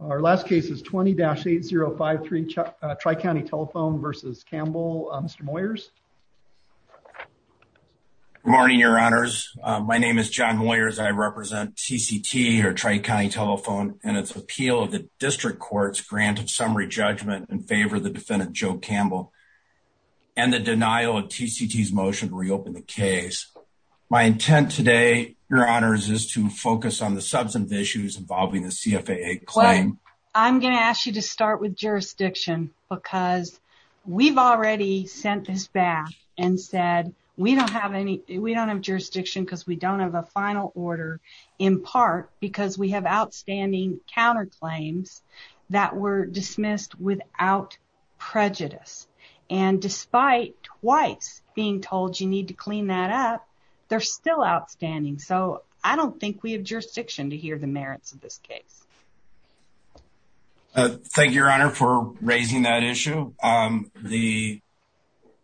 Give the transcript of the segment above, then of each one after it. Our last case is 20-8053 Tri-County Telephone v. Campbell. Mr. Moyers. Good morning, your honors. My name is John Moyers. I represent TCT or Tri-County Telephone and its appeal of the district court's grant of summary judgment in favor of the defendant Joe Campbell and the denial of TCT's motion to reopen the case. My intent today, your honors, is to focus on the substantive issues involving the CFAA claim. I'm going to ask you to start with jurisdiction because we've already sent this back and said we don't have any we don't have jurisdiction because we don't have a final order in part because we have outstanding counterclaims that were dismissed without prejudice and despite twice being told you need to clean that up, they're still outstanding. So I don't think we have jurisdiction to hear the merits of this case. Thank you, your honor, for raising that issue. The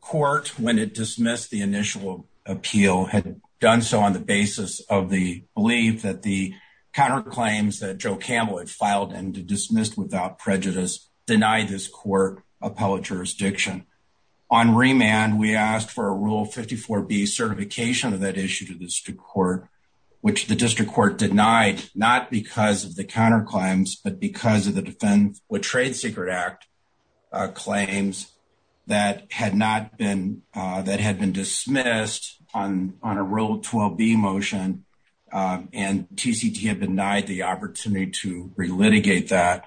court, when it dismissed the initial appeal, had done so on the basis of the belief that the counterclaims that Joe Campbell had filed and dismissed without prejudice denied this court appellate jurisdiction. On remand, we asked for a Rule 54B certification of that issue to the district court, which the district court denied not because of the counterclaims but because of the Defense with Trade Secret Act claims that had not been dismissed on a Rule 12B motion and TCT had denied the opportunity to relitigate that.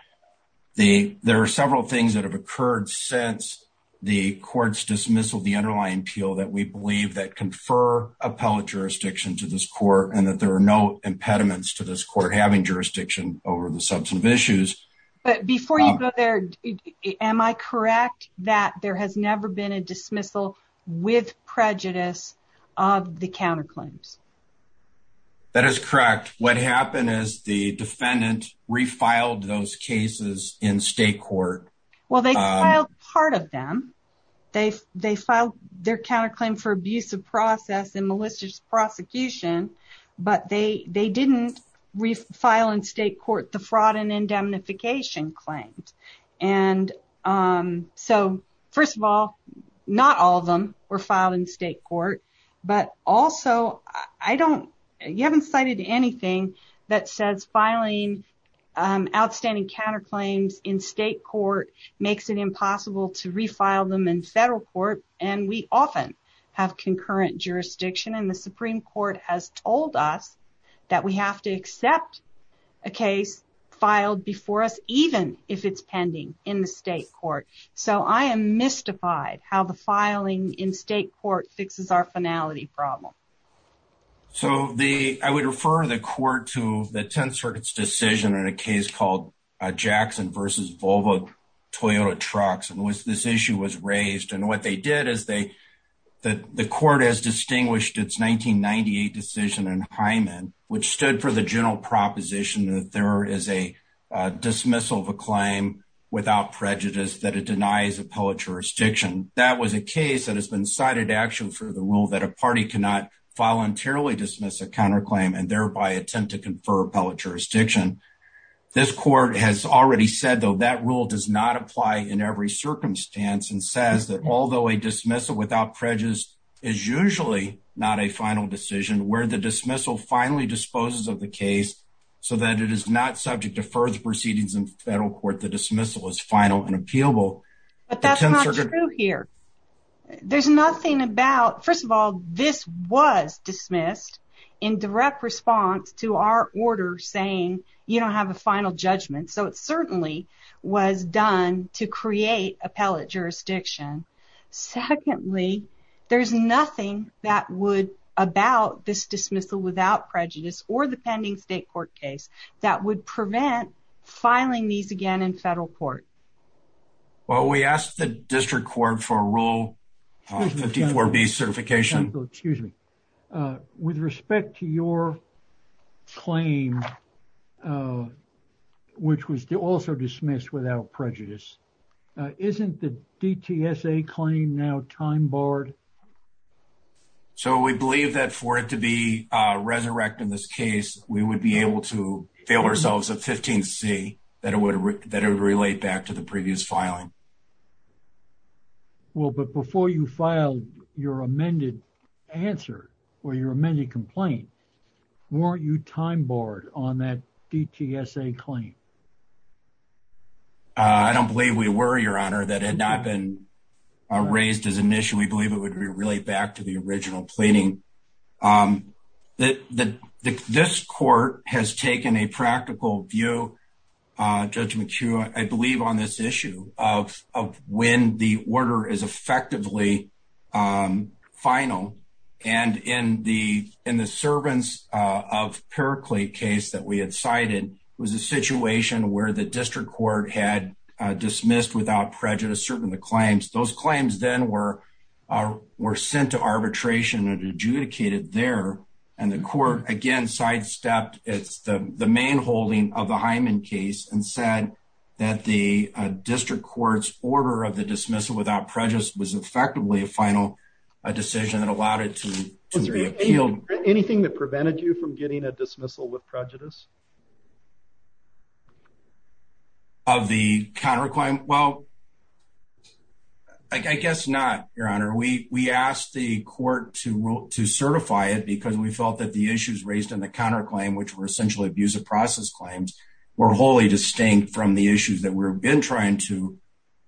The there are several things that have occurred since the court's dismissal of the underlying appeal that we believe that confer appellate jurisdiction to this court and that there are no impediments to this court having jurisdiction over the substantive issues. But before you go there, am I correct that there has never been a dismissal with prejudice of the counterclaims? That is correct. What happened is the defendant refiled those cases in state court. Well, they filed part of them. They filed their counterclaim for abusive process and malicious prosecution, but they didn't refile in state court the fraud and indemnification claims. And so, first of all, not all of them were filed in state court. But also, you haven't cited anything that says filing outstanding counterclaims in state court makes it impossible to refile them in federal court. And we often have concurrent jurisdiction and the Supreme Court has told us that we have to accept a case filed before us, even if it's pending in the state court. So, I am mystified how the filing in state court fixes our finality problem. So, I would refer the court to the Tenth Circuit's decision in a case called Jackson versus Volvo-Toyota trucks and this issue was its 1998 decision in Hyman, which stood for the general proposition that there is a dismissal of a claim without prejudice that it denies appellate jurisdiction. That was a case that has been cited actually for the rule that a party cannot voluntarily dismiss a counterclaim and thereby attempt to confer appellate jurisdiction. This court has already said, though, that rule does not apply in every circumstance and says that although a dismissal without prejudice is usually not a final decision, where the dismissal finally disposes of the case so that it is not subject to further proceedings in federal court, the dismissal is final and appealable. But that's not true here. There's nothing about, first of all, this was dismissed in direct response to our order saying you don't have a final judgment. So, it certainly was done to create appellate jurisdiction. Secondly, there's nothing that would about this dismissal without prejudice or the pending state court case that would prevent filing these again in federal court. Well, we asked the district court for a Rule 54B certification. Excuse me. With respect to your claim, which was also dismissed without prejudice, isn't the DTSA claim now time barred? So, we believe that for it to be resurrected in this case, we would be able to fail ourselves a 15C that it would relate back to the previous filing. Well, but before you filed your amended answer or your amended complaint, weren't you time barred on that DTSA claim? I don't believe we were, Your Honor. That had not been raised as an issue. We believe it would relate back to the original pleading. This court has taken a practical view, Judge McHugh, I believe on this issue of when the order is effectively final. And in the servants of Periclete case that we had cited, it was a situation where the district court had dismissed without prejudice certain of the claims. Those were adjudicated there. And the court, again, sidestepped the main holding of the Hyman case and said that the district court's order of the dismissal without prejudice was effectively a final decision that allowed it to be appealed. Anything that prevented you from getting a dismissal with prejudice? Of the counterclaim? Well, I guess not, Your Honor. We asked the court to certify it because we felt that the issues raised in the counterclaim, which were essentially abusive process claims, were wholly distinct from the issues that we've been trying to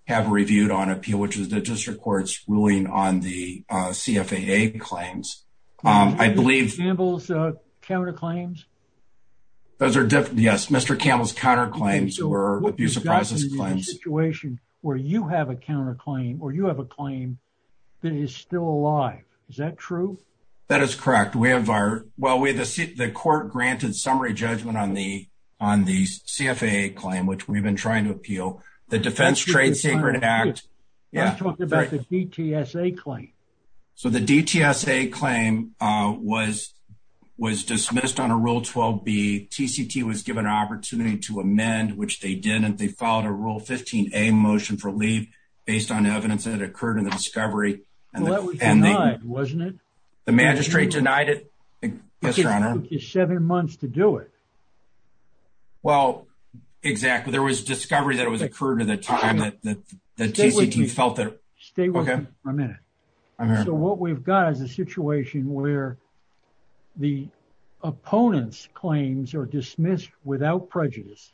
have reviewed on appeal, which was the district court's ruling on the CFAA claims. I believe- Campbell's counterclaims? Those are different. Yes. Mr. Campbell's counterclaims were abusive process claims. You've got to be in a situation where you have a counterclaim or you have a claim that is still alive. Is that true? That is correct. We have our- well, the court granted summary judgment on the on the CFAA claim, which we've been trying to appeal. The Defense Trade Secret Act- was dismissed on a Rule 12b. TCT was given an opportunity to amend, which they didn't. They filed a Rule 15a motion for leave based on evidence that occurred in the discovery. Well, that was denied, wasn't it? The magistrate denied it. Yes, Your Honor. It took you seven months to do it. Well, exactly. There was discovery that it was occurred at the time that the TCT felt that- Stay with me for a minute. So, what we've got is a situation where the opponent's claims are dismissed without prejudice.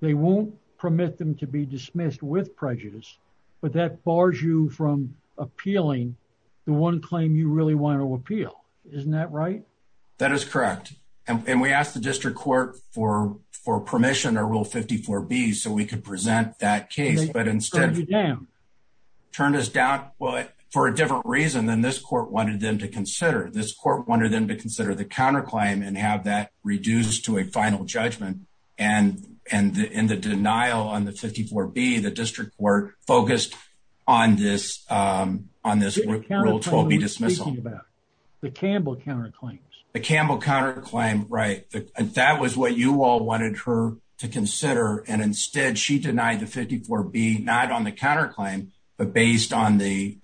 They won't permit them to be dismissed with prejudice, but that bars you from appealing the one claim you really want to appeal. Isn't that right? That is correct. And we asked the district court for permission on Rule 54b so we could present that case, but instead- They turned you down. Turned us down for a different reason than this court wanted them to consider. This court wanted them to consider the counterclaim and have that reduced to a final judgment. And in the denial on the 54b, the district court focused on this Rule 12b dismissal. The Campbell counterclaim. The Campbell counterclaim, right. That was what you all wanted her to consider. And instead, she denied the 54b, not on the counterclaim, but based on the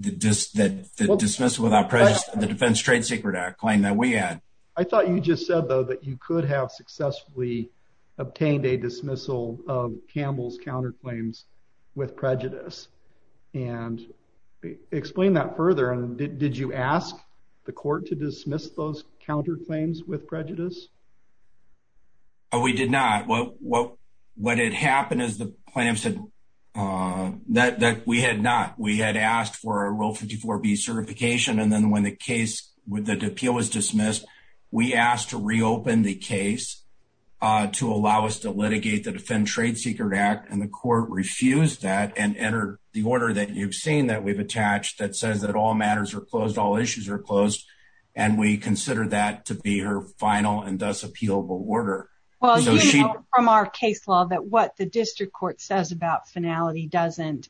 dismissal without prejudice of the Defense Trade Secret Act claim that we had. I thought you just said, though, that you could have successfully obtained a dismissal of Campbell's counterclaims with prejudice. And explain that further. Did you ask the court to dismiss those counterclaims with prejudice? We did not. What had happened is the plaintiff said that we had not. We had asked for a Rule 54b certification, and then when the appeal was dismissed, we asked to reopen the case to allow us to litigate the Defense Trade Secret Act. And the court refused that and entered the order that you've seen that we've attached that says that all matters are closed, all issues are closed. And we consider that to be her final and thus appealable order. Well, you know from our case law that what the district court says about finality doesn't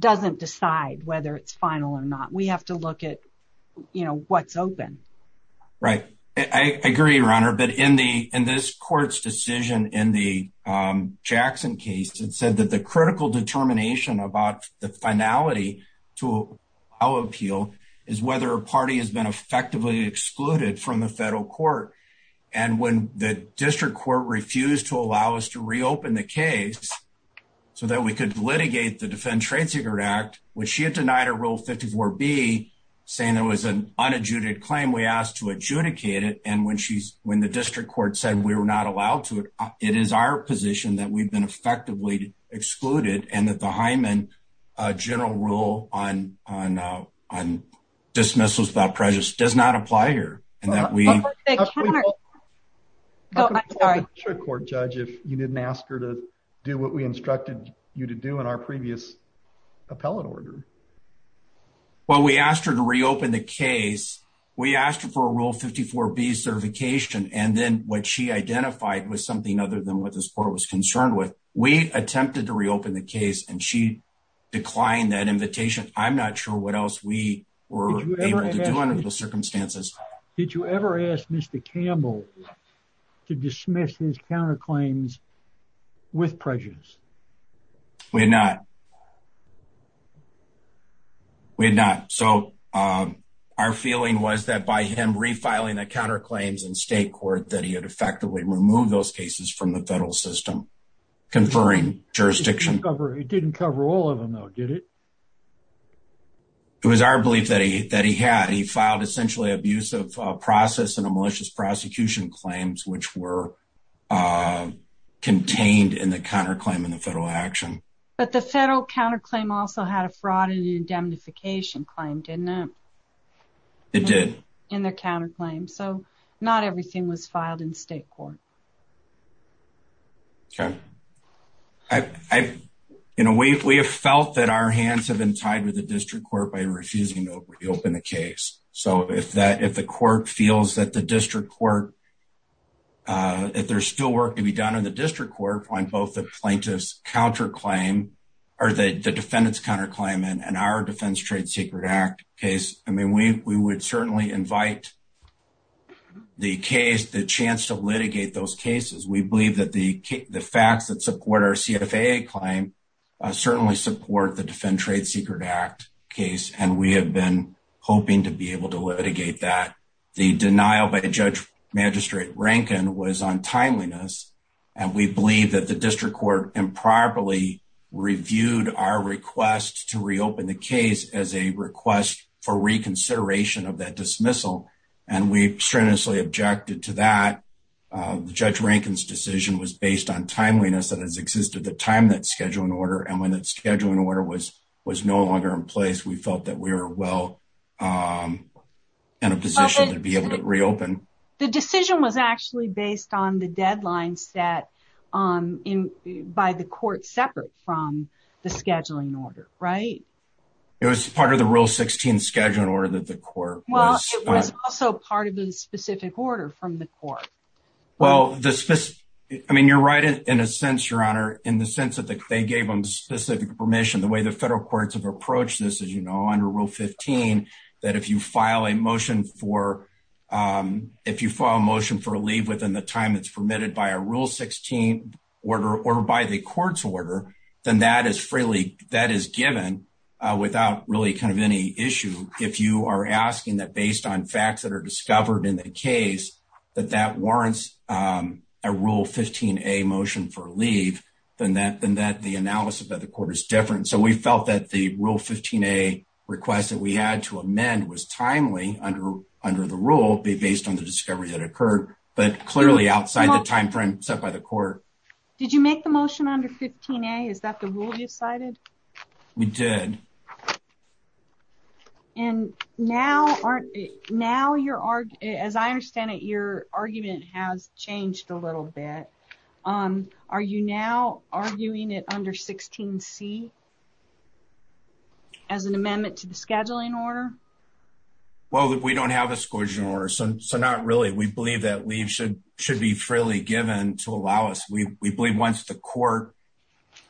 decide whether it's final or not. We have to look at, you know, what's open. Right. I agree, Your Honor. But in this court's decision in the Jackson case, it said that the critical determination about the finality to our appeal is whether a party has been effectively excluded from the federal court. And when the district court refused to allow us to reopen the case so that we could litigate the Defense Trade Secret Act, when she had denied a Rule 54b saying there was an unadjudicated claim, we asked to adjudicate it. And when she's, when the district court said we were not allowed to, it is our position that we've been effectively excluded and that the Hyman general rule on dismissals without prejudice does not apply here. And that we... Oh, I'm sorry. The district court judge, if you didn't ask her to do what we instructed you to do in our previous appellate order. Well, we asked her to reopen the case. We asked her for a Rule 54b certification. And then what she identified was something other than what this court was concerned with. We attempted to reopen the case and she declined that invitation. I'm not sure what else we were able to do under the circumstances. Did you ever ask Mr. Campbell to dismiss his counterclaims with prejudice? We had not. We had not. So our feeling was that by him refiling the counterclaims in state court, that he had effectively removed those cases from the federal system, conferring jurisdiction. It didn't cover all of them though, did it? It was our belief that he had. He filed essentially abusive process and a malicious prosecution claims which were contained in the counterclaim in the federal action. But the federal counterclaim also had a fraud and indemnification claim, didn't it? It did. In the counterclaim. So not everything was filed in state court. Okay. We have felt that our hands have been tied with the district court by refusing to reopen the case. So if the court feels that the district court, if there's still work to be done in the district court on both the plaintiff's counterclaim or the defendant's counterclaim in our Defense Trade Secret Act case, I mean, we would certainly invite the case, the chance to litigate those cases. We believe that the facts that support our CFAA claim certainly support the Defense Trade Secret Act case. And we have been hoping to be able to litigate that. The denial by the judge magistrate Rankin was on timeliness. And we believe that the district court improperly reviewed our request to reopen the case as a consideration of that dismissal. And we strenuously objected to that. The judge Rankin's decision was based on timeliness that has existed the time that scheduling order. And when that scheduling order was no longer in place, we felt that we were well in a position to be able to reopen. The decision was actually based on the deadline set by the court separate from the the court. Well, it was also part of the specific order from the court. Well, I mean, you're right in a sense, Your Honor, in the sense that they gave them specific permission, the way the federal courts have approached this, as you know, under Rule 15, that if you file a motion for leave within the time that's permitted by a Rule 16 order or by the court's order, then that is freely, that is given without really kind of any issue. If you are asking that based on facts that are discovered in the case, that that warrants a Rule 15a motion for leave, then that the analysis of the court is different. So we felt that the Rule 15a request that we had to amend was timely under the rule based on the discovery that occurred, but clearly outside the time frame set by the court. Did you make the motion under 15a? Is that the rule you cited? We did. And now, as I understand it, your argument has changed a little bit. Are you now arguing it under 16c as an amendment to the scheduling order? Well, we don't have a scheduling order, so not really. We believe that leave should be freely given to allow us. We believe once the court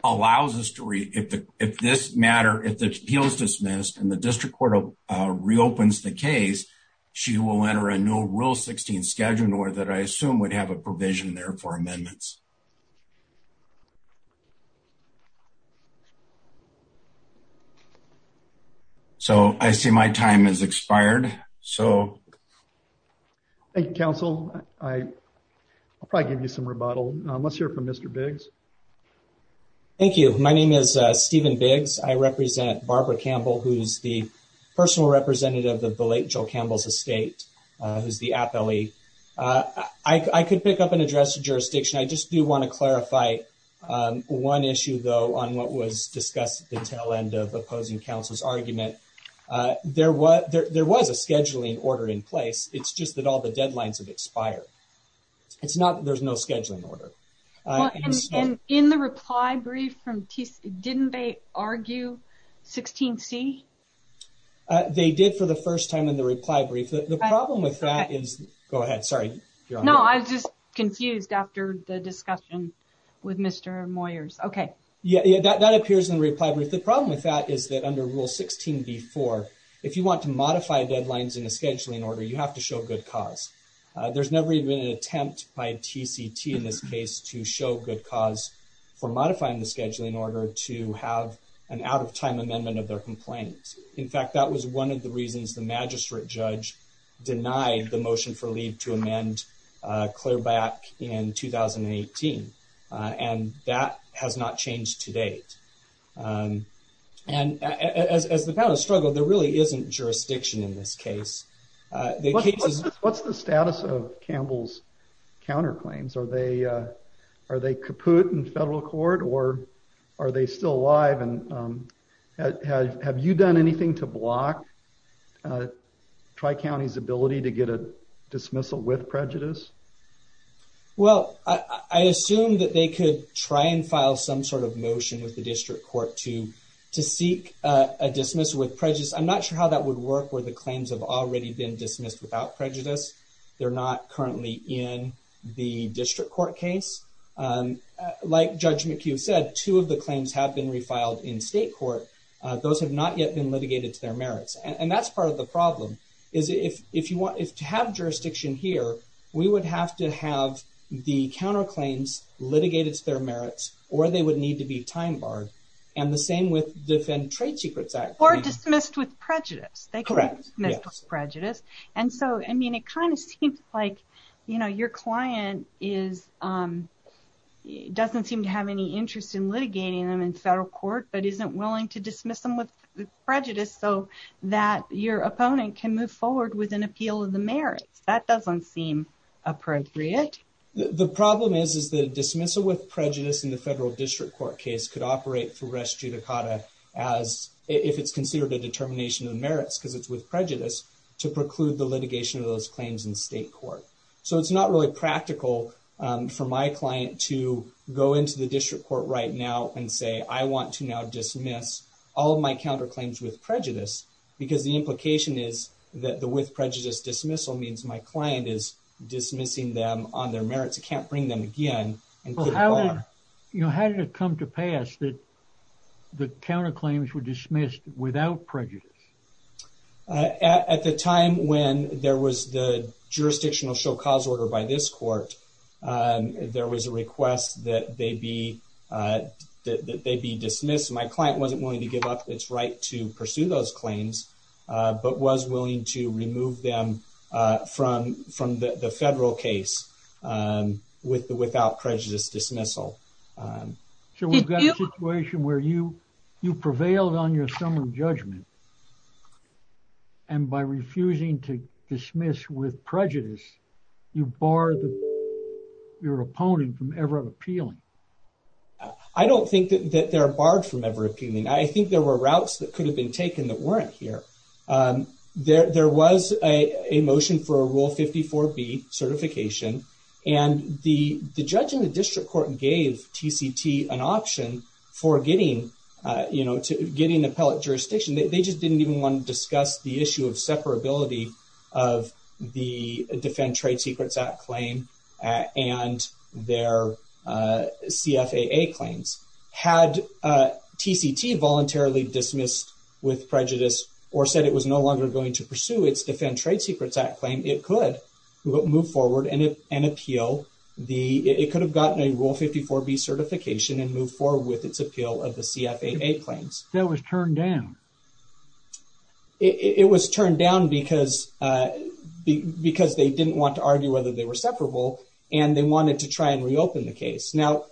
allows us to, if this matter, if the appeal is dismissed and the district court reopens the case, she will enter a new Rule 16 scheduling order that I assume would have a Thank you, counsel. I'll probably give you some rebuttal. Let's hear from Mr. Biggs. Thank you. My name is Stephen Biggs. I represent Barbara Campbell, who's the personal representative of the late Joel Campbell's estate, who's the appellee. I could pick up and address the jurisdiction. I just do want to clarify one issue, though, on what was discussed at the tail end of counsel's argument. There was a scheduling order in place. It's just that all the deadlines have expired. It's not that there's no scheduling order. And in the reply brief from didn't they argue 16c? They did for the first time in the reply brief. The problem with that is, go ahead, sorry. No, I was just confused after the discussion with Mr. Moyers. Okay, yeah, that appears in the reply brief. The problem with that is that under Rule 16b-4, if you want to modify deadlines in a scheduling order, you have to show good cause. There's never even an attempt by TCT in this case to show good cause for modifying the scheduling order to have an out-of-time amendment of their complaint. In fact, that was one of the reasons the magistrate judge denied the motion for leave to amend clear back in 2018. And that has not changed to date. And as the panel has struggled, there really isn't jurisdiction in this case. What's the status of Campbell's counterclaims? Are they kaput in federal court or are they still alive? And have you done anything to block Tri-County's ability to get a dismissal with prejudice? Well, I assume that they could try and file some sort of motion with the district court to seek a dismissal with prejudice. I'm not sure how that would work where the claims have already been dismissed without prejudice. They're not currently in the district court case. Like Judge McHugh said, two of the claims have been refiled in state court. Those have not yet been litigated to their merits. And that's part of the problem. If you want to have jurisdiction here, we would have to have the counterclaims litigated to their merits or they would need to be time-barred. And the same with Defend Trade Secrets Act. Or dismissed with prejudice. They could be dismissed with prejudice. And so, I mean, it kind of seems like, you know, your client doesn't seem to have any so that your opponent can move forward with an appeal of the merits. That doesn't seem appropriate. The problem is, is the dismissal with prejudice in the federal district court case could operate through res judicata as if it's considered a determination of merits because it's with prejudice to preclude the litigation of those claims in state court. So, it's not really practical for my client to go into the district court right now and say, I want to now dismiss all of my counterclaims with prejudice. Because the implication is that the with prejudice dismissal means my client is dismissing them on their merits. I can't bring them again and put a bar. Well, how did it come to pass that the counterclaims were dismissed without prejudice? At the time when there was the jurisdictional show cause order by this court, there was a request that they be dismissed. My client wasn't willing to give up its right to pursue those claims, but was willing to remove them from the federal case without prejudice dismissal. So, we've got a situation where you prevailed on your summary judgment and by refusing to dismiss with prejudice, you bar your opponent from ever appealing. I don't think that they're barred from ever appealing. I think there were routes that could have been taken that weren't here. There was a motion for a Rule 54B certification and the judge in the district court gave TCT an option for getting, you know, to getting appellate jurisdiction. They just didn't even want to discuss the issue of separability of the Defend Trade Secrets Act claim and their CFAA claims. Had TCT voluntarily dismissed with prejudice or said it was no longer going to pursue its Defend Trade Secrets Act claim, it could move forward and appeal. It could have gotten a Rule 54B certification and move forward with its appeal of the CFAA claims. That was turned down. It was turned down because they didn't want to argue whether they were separable and they wanted to try and reopen the case. Now,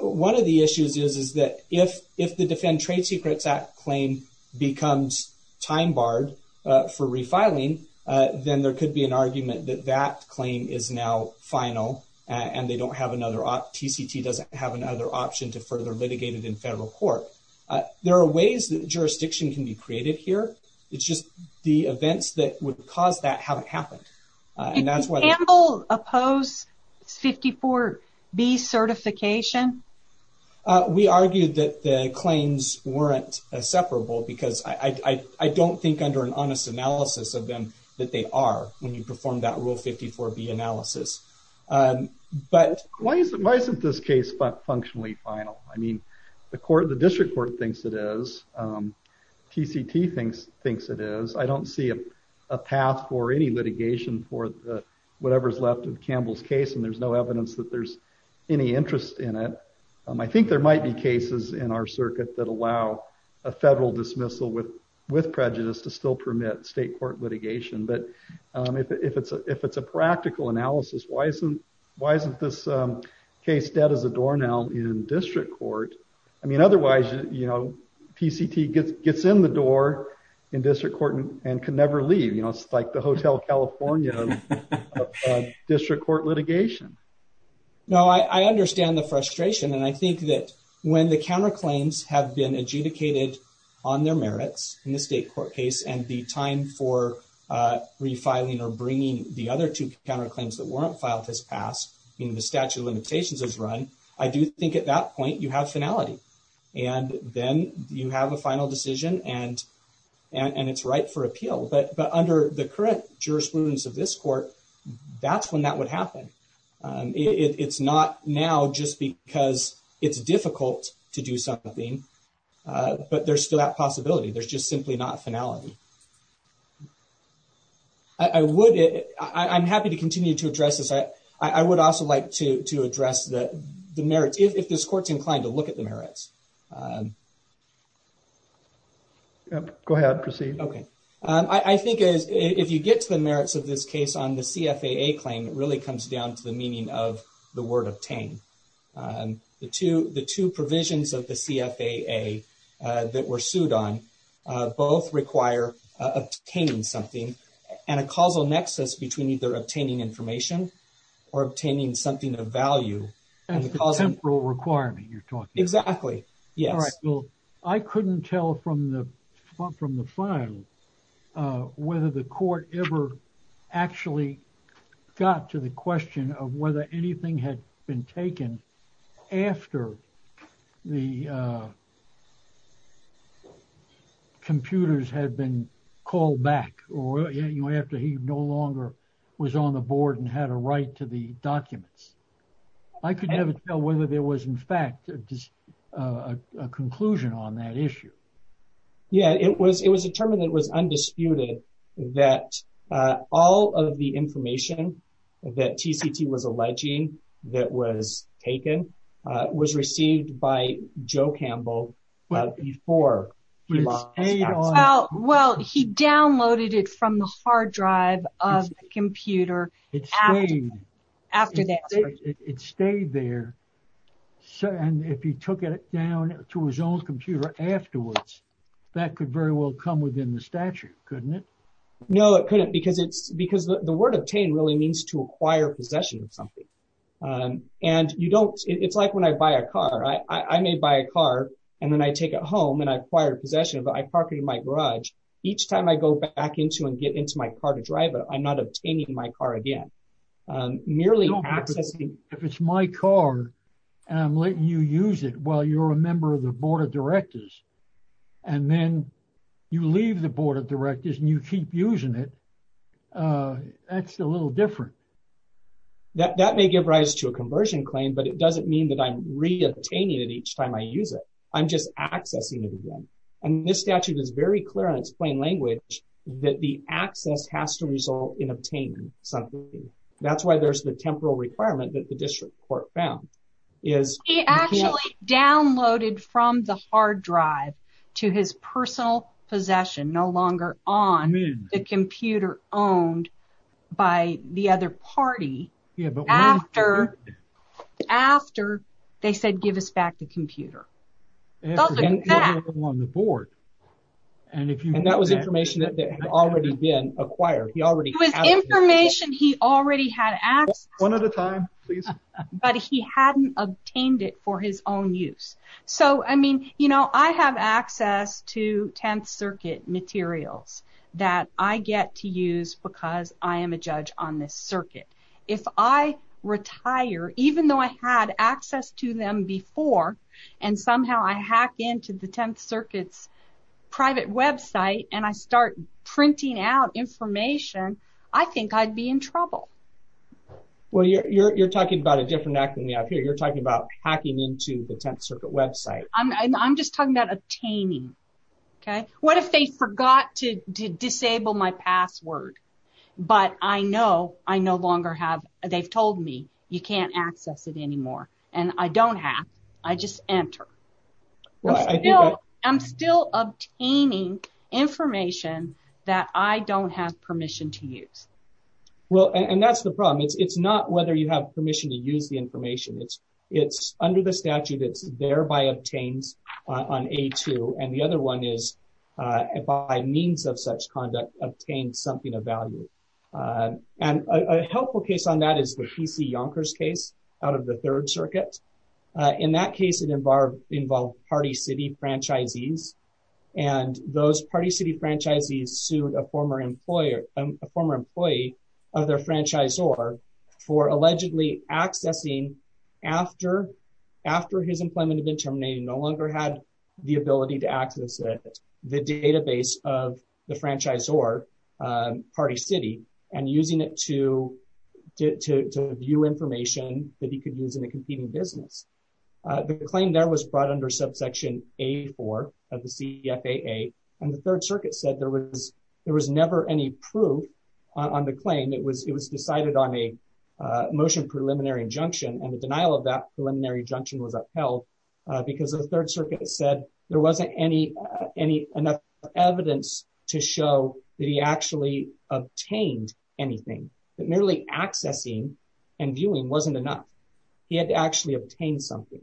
one of the issues is that if the Defend Trade Secrets Act claim becomes time barred for refiling, then there could be an argument that that claim is now final and they don't have another option. TCT doesn't have another option to further litigate it in federal court. There are ways that jurisdiction can be created here. It's just the events that would cause that haven't happened and that's why... Did Campbell oppose 54B certification? We argued that the claims weren't separable because I don't think under an honest analysis of them that they are when you perform that Rule 54B analysis. Why isn't this case functionally final? I mean, the court, thinks it is. TCT thinks it is. I don't see a path for any litigation for whatever's left of Campbell's case and there's no evidence that there's any interest in it. I think there might be cases in our circuit that allow a federal dismissal with prejudice to still permit state court litigation. If it's a practical analysis, why isn't this case dead as a doornail in district court? I mean, otherwise, TCT gets in the door in district court and can never leave. It's like the Hotel California of district court litigation. No, I understand the frustration and I think that when the counterclaims have been adjudicated on their merits in the state court case and the time for refiling or bringing the other two counterclaims that weren't filed has passed, I mean, the statute of limitations has run, I do think at that point you have finality and then you have a final decision and it's ripe for appeal. But under the current jurisprudence of this court, that's when that would happen. It's not now just because it's difficult to do something, but there's still that possibility. There's just simply not finality. I would, I'm happy to continue to address this. I would also like to address the merits, if this court's inclined to look at the merits. Go ahead, proceed. Okay. I think if you get to the merits of this case on the CFAA claim, it really comes down to the meaning of the word obtain. The two provisions of the CFAA that were sued on both require obtaining something and a causal nexus between either obtaining information or obtaining something of value. The temporal requirement you're talking about. Exactly, yes. All right, well, I couldn't tell from the file whether the court ever actually got to the question of whether anything had been taken after the computers had been called back or after he no longer was on the board and had a right to the documents. I could never tell whether there was in fact a conclusion on that issue. Yeah, it was determined that it was undisputed that all of the information that TCT was alleging that was taken was received by Joe Campbell before. Well, he downloaded it from the hard drive of the computer after that. It stayed there and if he took it down to his own computer afterwards, that could very well come within the statute, couldn't it? No, it couldn't because the word obtain really means to acquire possession of something. It's like when I buy a car. I may buy a car and then I take it home and I acquire possession of it. I park it in my garage. Each time I go back into and get into my car to drive I'm not obtaining my car again. If it's my car and I'm letting you use it while you're a member of the board of directors and then you leave the board of directors and you keep using it, that's a little different. That may give rise to a conversion claim but it doesn't mean that I'm re-obtaining it each time I use it. I'm just accessing it again and this statute is very clear in its plain language that the access has to result in obtaining something. That's why there's the temporal requirement that the district court found. He actually downloaded from the hard drive to his personal possession no longer on the computer owned by the other party after they said give us back the computer. That was information that had already been acquired. It was information he already had access to but he hadn't obtained it for his own use. I have access to 10th circuit materials that I get to use because I am a judge on this circuit. If I retire even though I had access to them before and somehow I hack into the 10th circuit's private website and I start printing out information, I think I'd be in trouble. Well you're talking about a different act than we have here. You're talking about hacking into the 10th circuit website. I'm just talking about obtaining. What if they forgot to disable my password but they've told me you can't access it anymore and I don't have. I just enter. I'm still obtaining information that I don't have permission to use. That's the problem. It's not whether you have permission to use the information. It's under the statute that's thereby obtained on A2 and the other one is by means of such conduct obtained something of value. A helpful case on that is the PC Yonkers case out of the 3rd circuit. In that case it involved party city franchisees and those party city franchisees sued a former a former employee of their franchisor for allegedly accessing after his employment had been terminated, no longer had the ability to access it, the database of the franchisor party city and using it to view information that he could use in a competing business. The claim there was brought under subsection A4 of the CFAA and the 3rd circuit said there was never any proof on the claim. It was decided on a motion preliminary injunction and the denial of that preliminary injunction was upheld because the 3rd circuit said there wasn't enough evidence to show that he actually obtained anything. That merely accessing and viewing wasn't enough. He had to actually obtain something.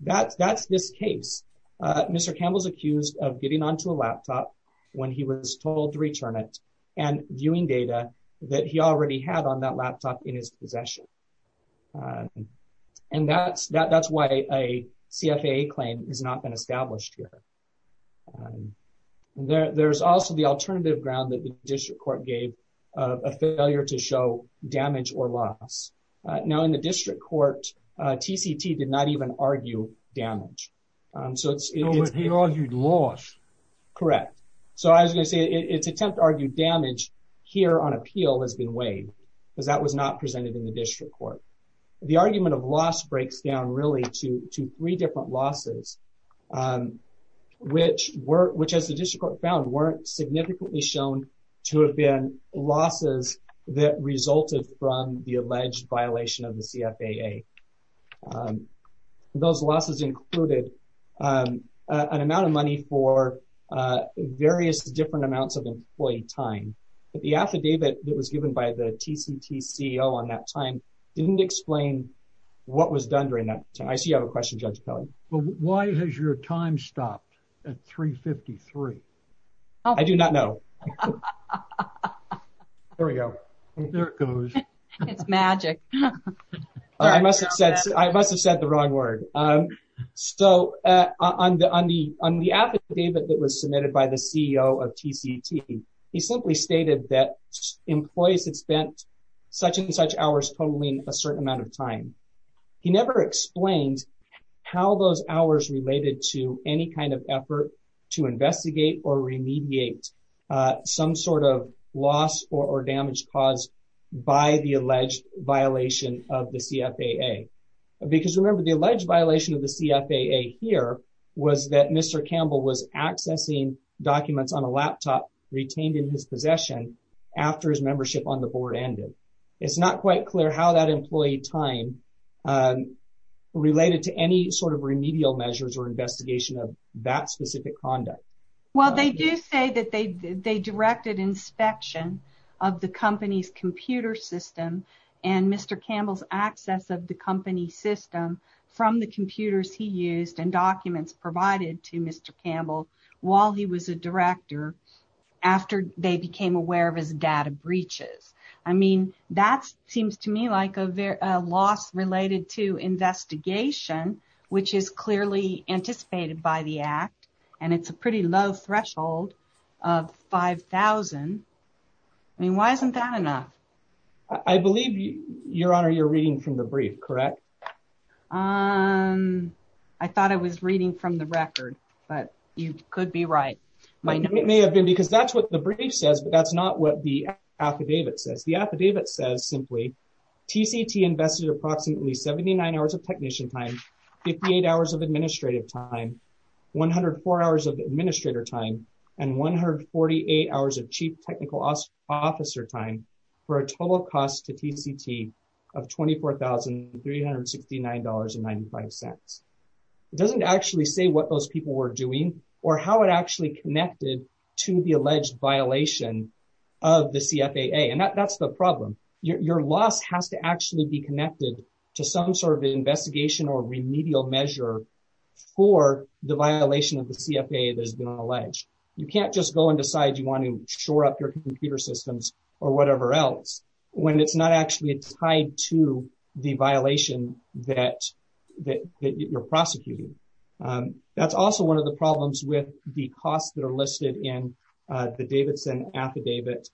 That's this case. Mr. Campbell's accused of getting onto a laptop when he was told to return it and viewing data that he already had on that laptop in his possession and that's why a CFAA claim has not been established here. There's also the alternative ground that the district court gave a failure to show damage or loss. Now in the district court TCT did not even argue damage. He argued loss. Correct. So I was going to say its attempt to argue damage here on appeal has been waived because that was not presented in the district court. The argument of loss breaks down really to three different losses which as the district court found weren't significantly shown to have been losses that resulted from the alleged violation of the CFAA. Those losses included an amount of money for various different amounts of employee time but the affidavit that was given by the TCT CEO on that time didn't explain what was done during that time. I see you have a question Judge Kelly. Why has your time stopped at 3 53? I do not know. There we go. There it goes. It's magic. I must have said the wrong word. So on the affidavit that was submitted by the CEO of TCT he simply stated that employees had spent such and such hours totaling a certain amount of time. He never explained how those hours related to any kind of effort to investigate or remediate some sort of loss or damage caused by the alleged violation of the CFAA. Because remember the alleged violation of the CFAA here was that Mr. Campbell was accessing documents on a laptop retained in his possession after his membership on the board ended. It's not quite clear how that employee time related to any sort of remedial measures or specific conduct. Well they do say that they directed inspection of the company's computer system and Mr. Campbell's access of the company system from the computers he used and documents provided to Mr. Campbell while he was a director after they became aware of his data breaches. I mean that seems to me like a loss related to investigation which is clearly anticipated by the act and it's a pretty low threshold of 5,000. I mean why isn't that enough? I believe your honor you're reading from the brief correct? I thought I was reading from the record but you could be right. It may have been because that's what the brief says but that's not what the affidavit says. The affidavit says simply TCT invested approximately 79 hours of technician time, 58 hours of administrative time, 104 hours of administrator time and 148 hours of chief technical officer time for a total cost to TCT of $24,369.95. It doesn't actually say what those people were doing or how it actually connected to the alleged violation of the CFAA and that's the problem. Your loss has to actually be connected to some sort of investigation or remedial measure for the violation of the CFAA that's been alleged. You can't just go and decide you want to shore up your computer systems or whatever else when it's not actually tied to the violation that you're prosecuting. That's also one of the problems with the costs that listed in the Davidson affidavit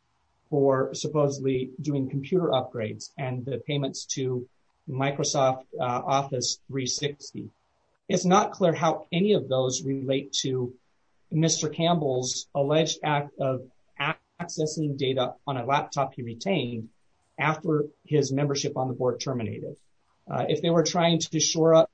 for supposedly doing computer upgrades and the payments to Microsoft Office 360. It's not clear how any of those relate to Mr. Campbell's alleged act of accessing data on a laptop he retained after his membership on the board terminated. If they were trying to shore up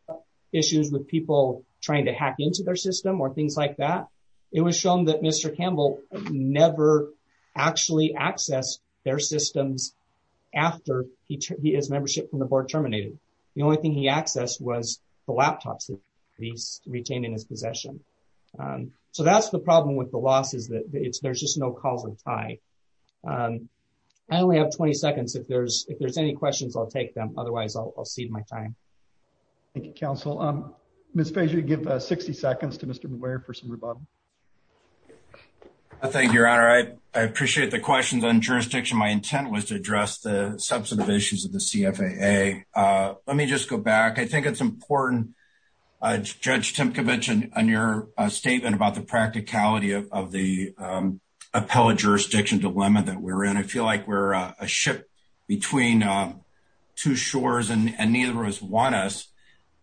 issues with people trying to hack into their system or things like that, it was shown that Mr. Campbell never actually accessed their systems after his membership from the board terminated. The only thing he accessed was the laptops that he's retained in his possession. So that's the problem with the loss is that there's just no causal tie. I only have 20 seconds. If there's any questions, I'll take them. Otherwise, I'll cede my time. Thank you, counsel. Ms. Fasio, give 60 seconds to Mr. Muir for some rebuttal. Thank you, your honor. I appreciate the questions on jurisdiction. My intent was to address the substantive issues of the CFAA. Let me just go back. I think it's important, Judge Timkovich, on your statement about the practicality of the appellate jurisdiction dilemma that we're in. I feel like we're a ship between two shores and neither has won us.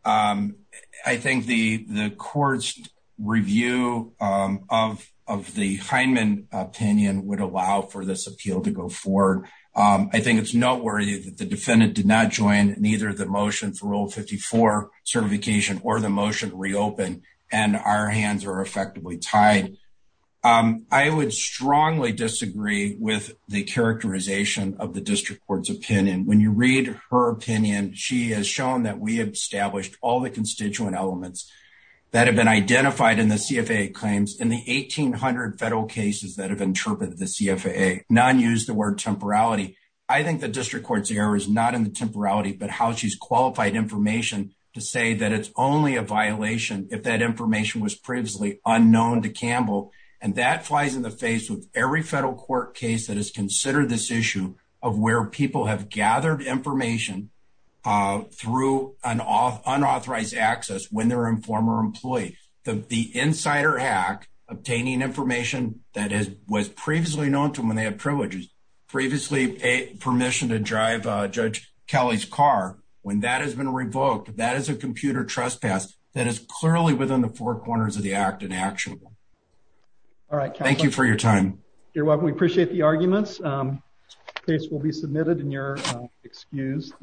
I think the court's review of the Heinemann opinion would allow for this appeal to go forward. I think it's noteworthy that the defendant did not join neither the motion for Rule 54 certification or the motion to reopen and our hands are effectively tied. I would strongly disagree with the characterization of the district court's opinion. When you read her opinion, she has shown that we have established all the constituent elements that have been identified in the CFAA claims in the 1,800 federal cases that have interpreted the CFAA. None use the word temporality. I think the district court's error is not in the temporality, but how she's qualified information to say that it's only a violation if that information was previously unknown to Campbell. That flies in the face of every federal court case that has considered this issue of where people have gathered information through an unauthorized access when they're a former employee. The insider hack, obtaining information that was previously known to them when they had privileges, previously permission to drive Judge Kelly's car, when that has been revoked, that is a computer trespass that is clearly within the four corners of the act in action. Thank you for your time. We appreciate the arguments. This will be submitted in your excuse.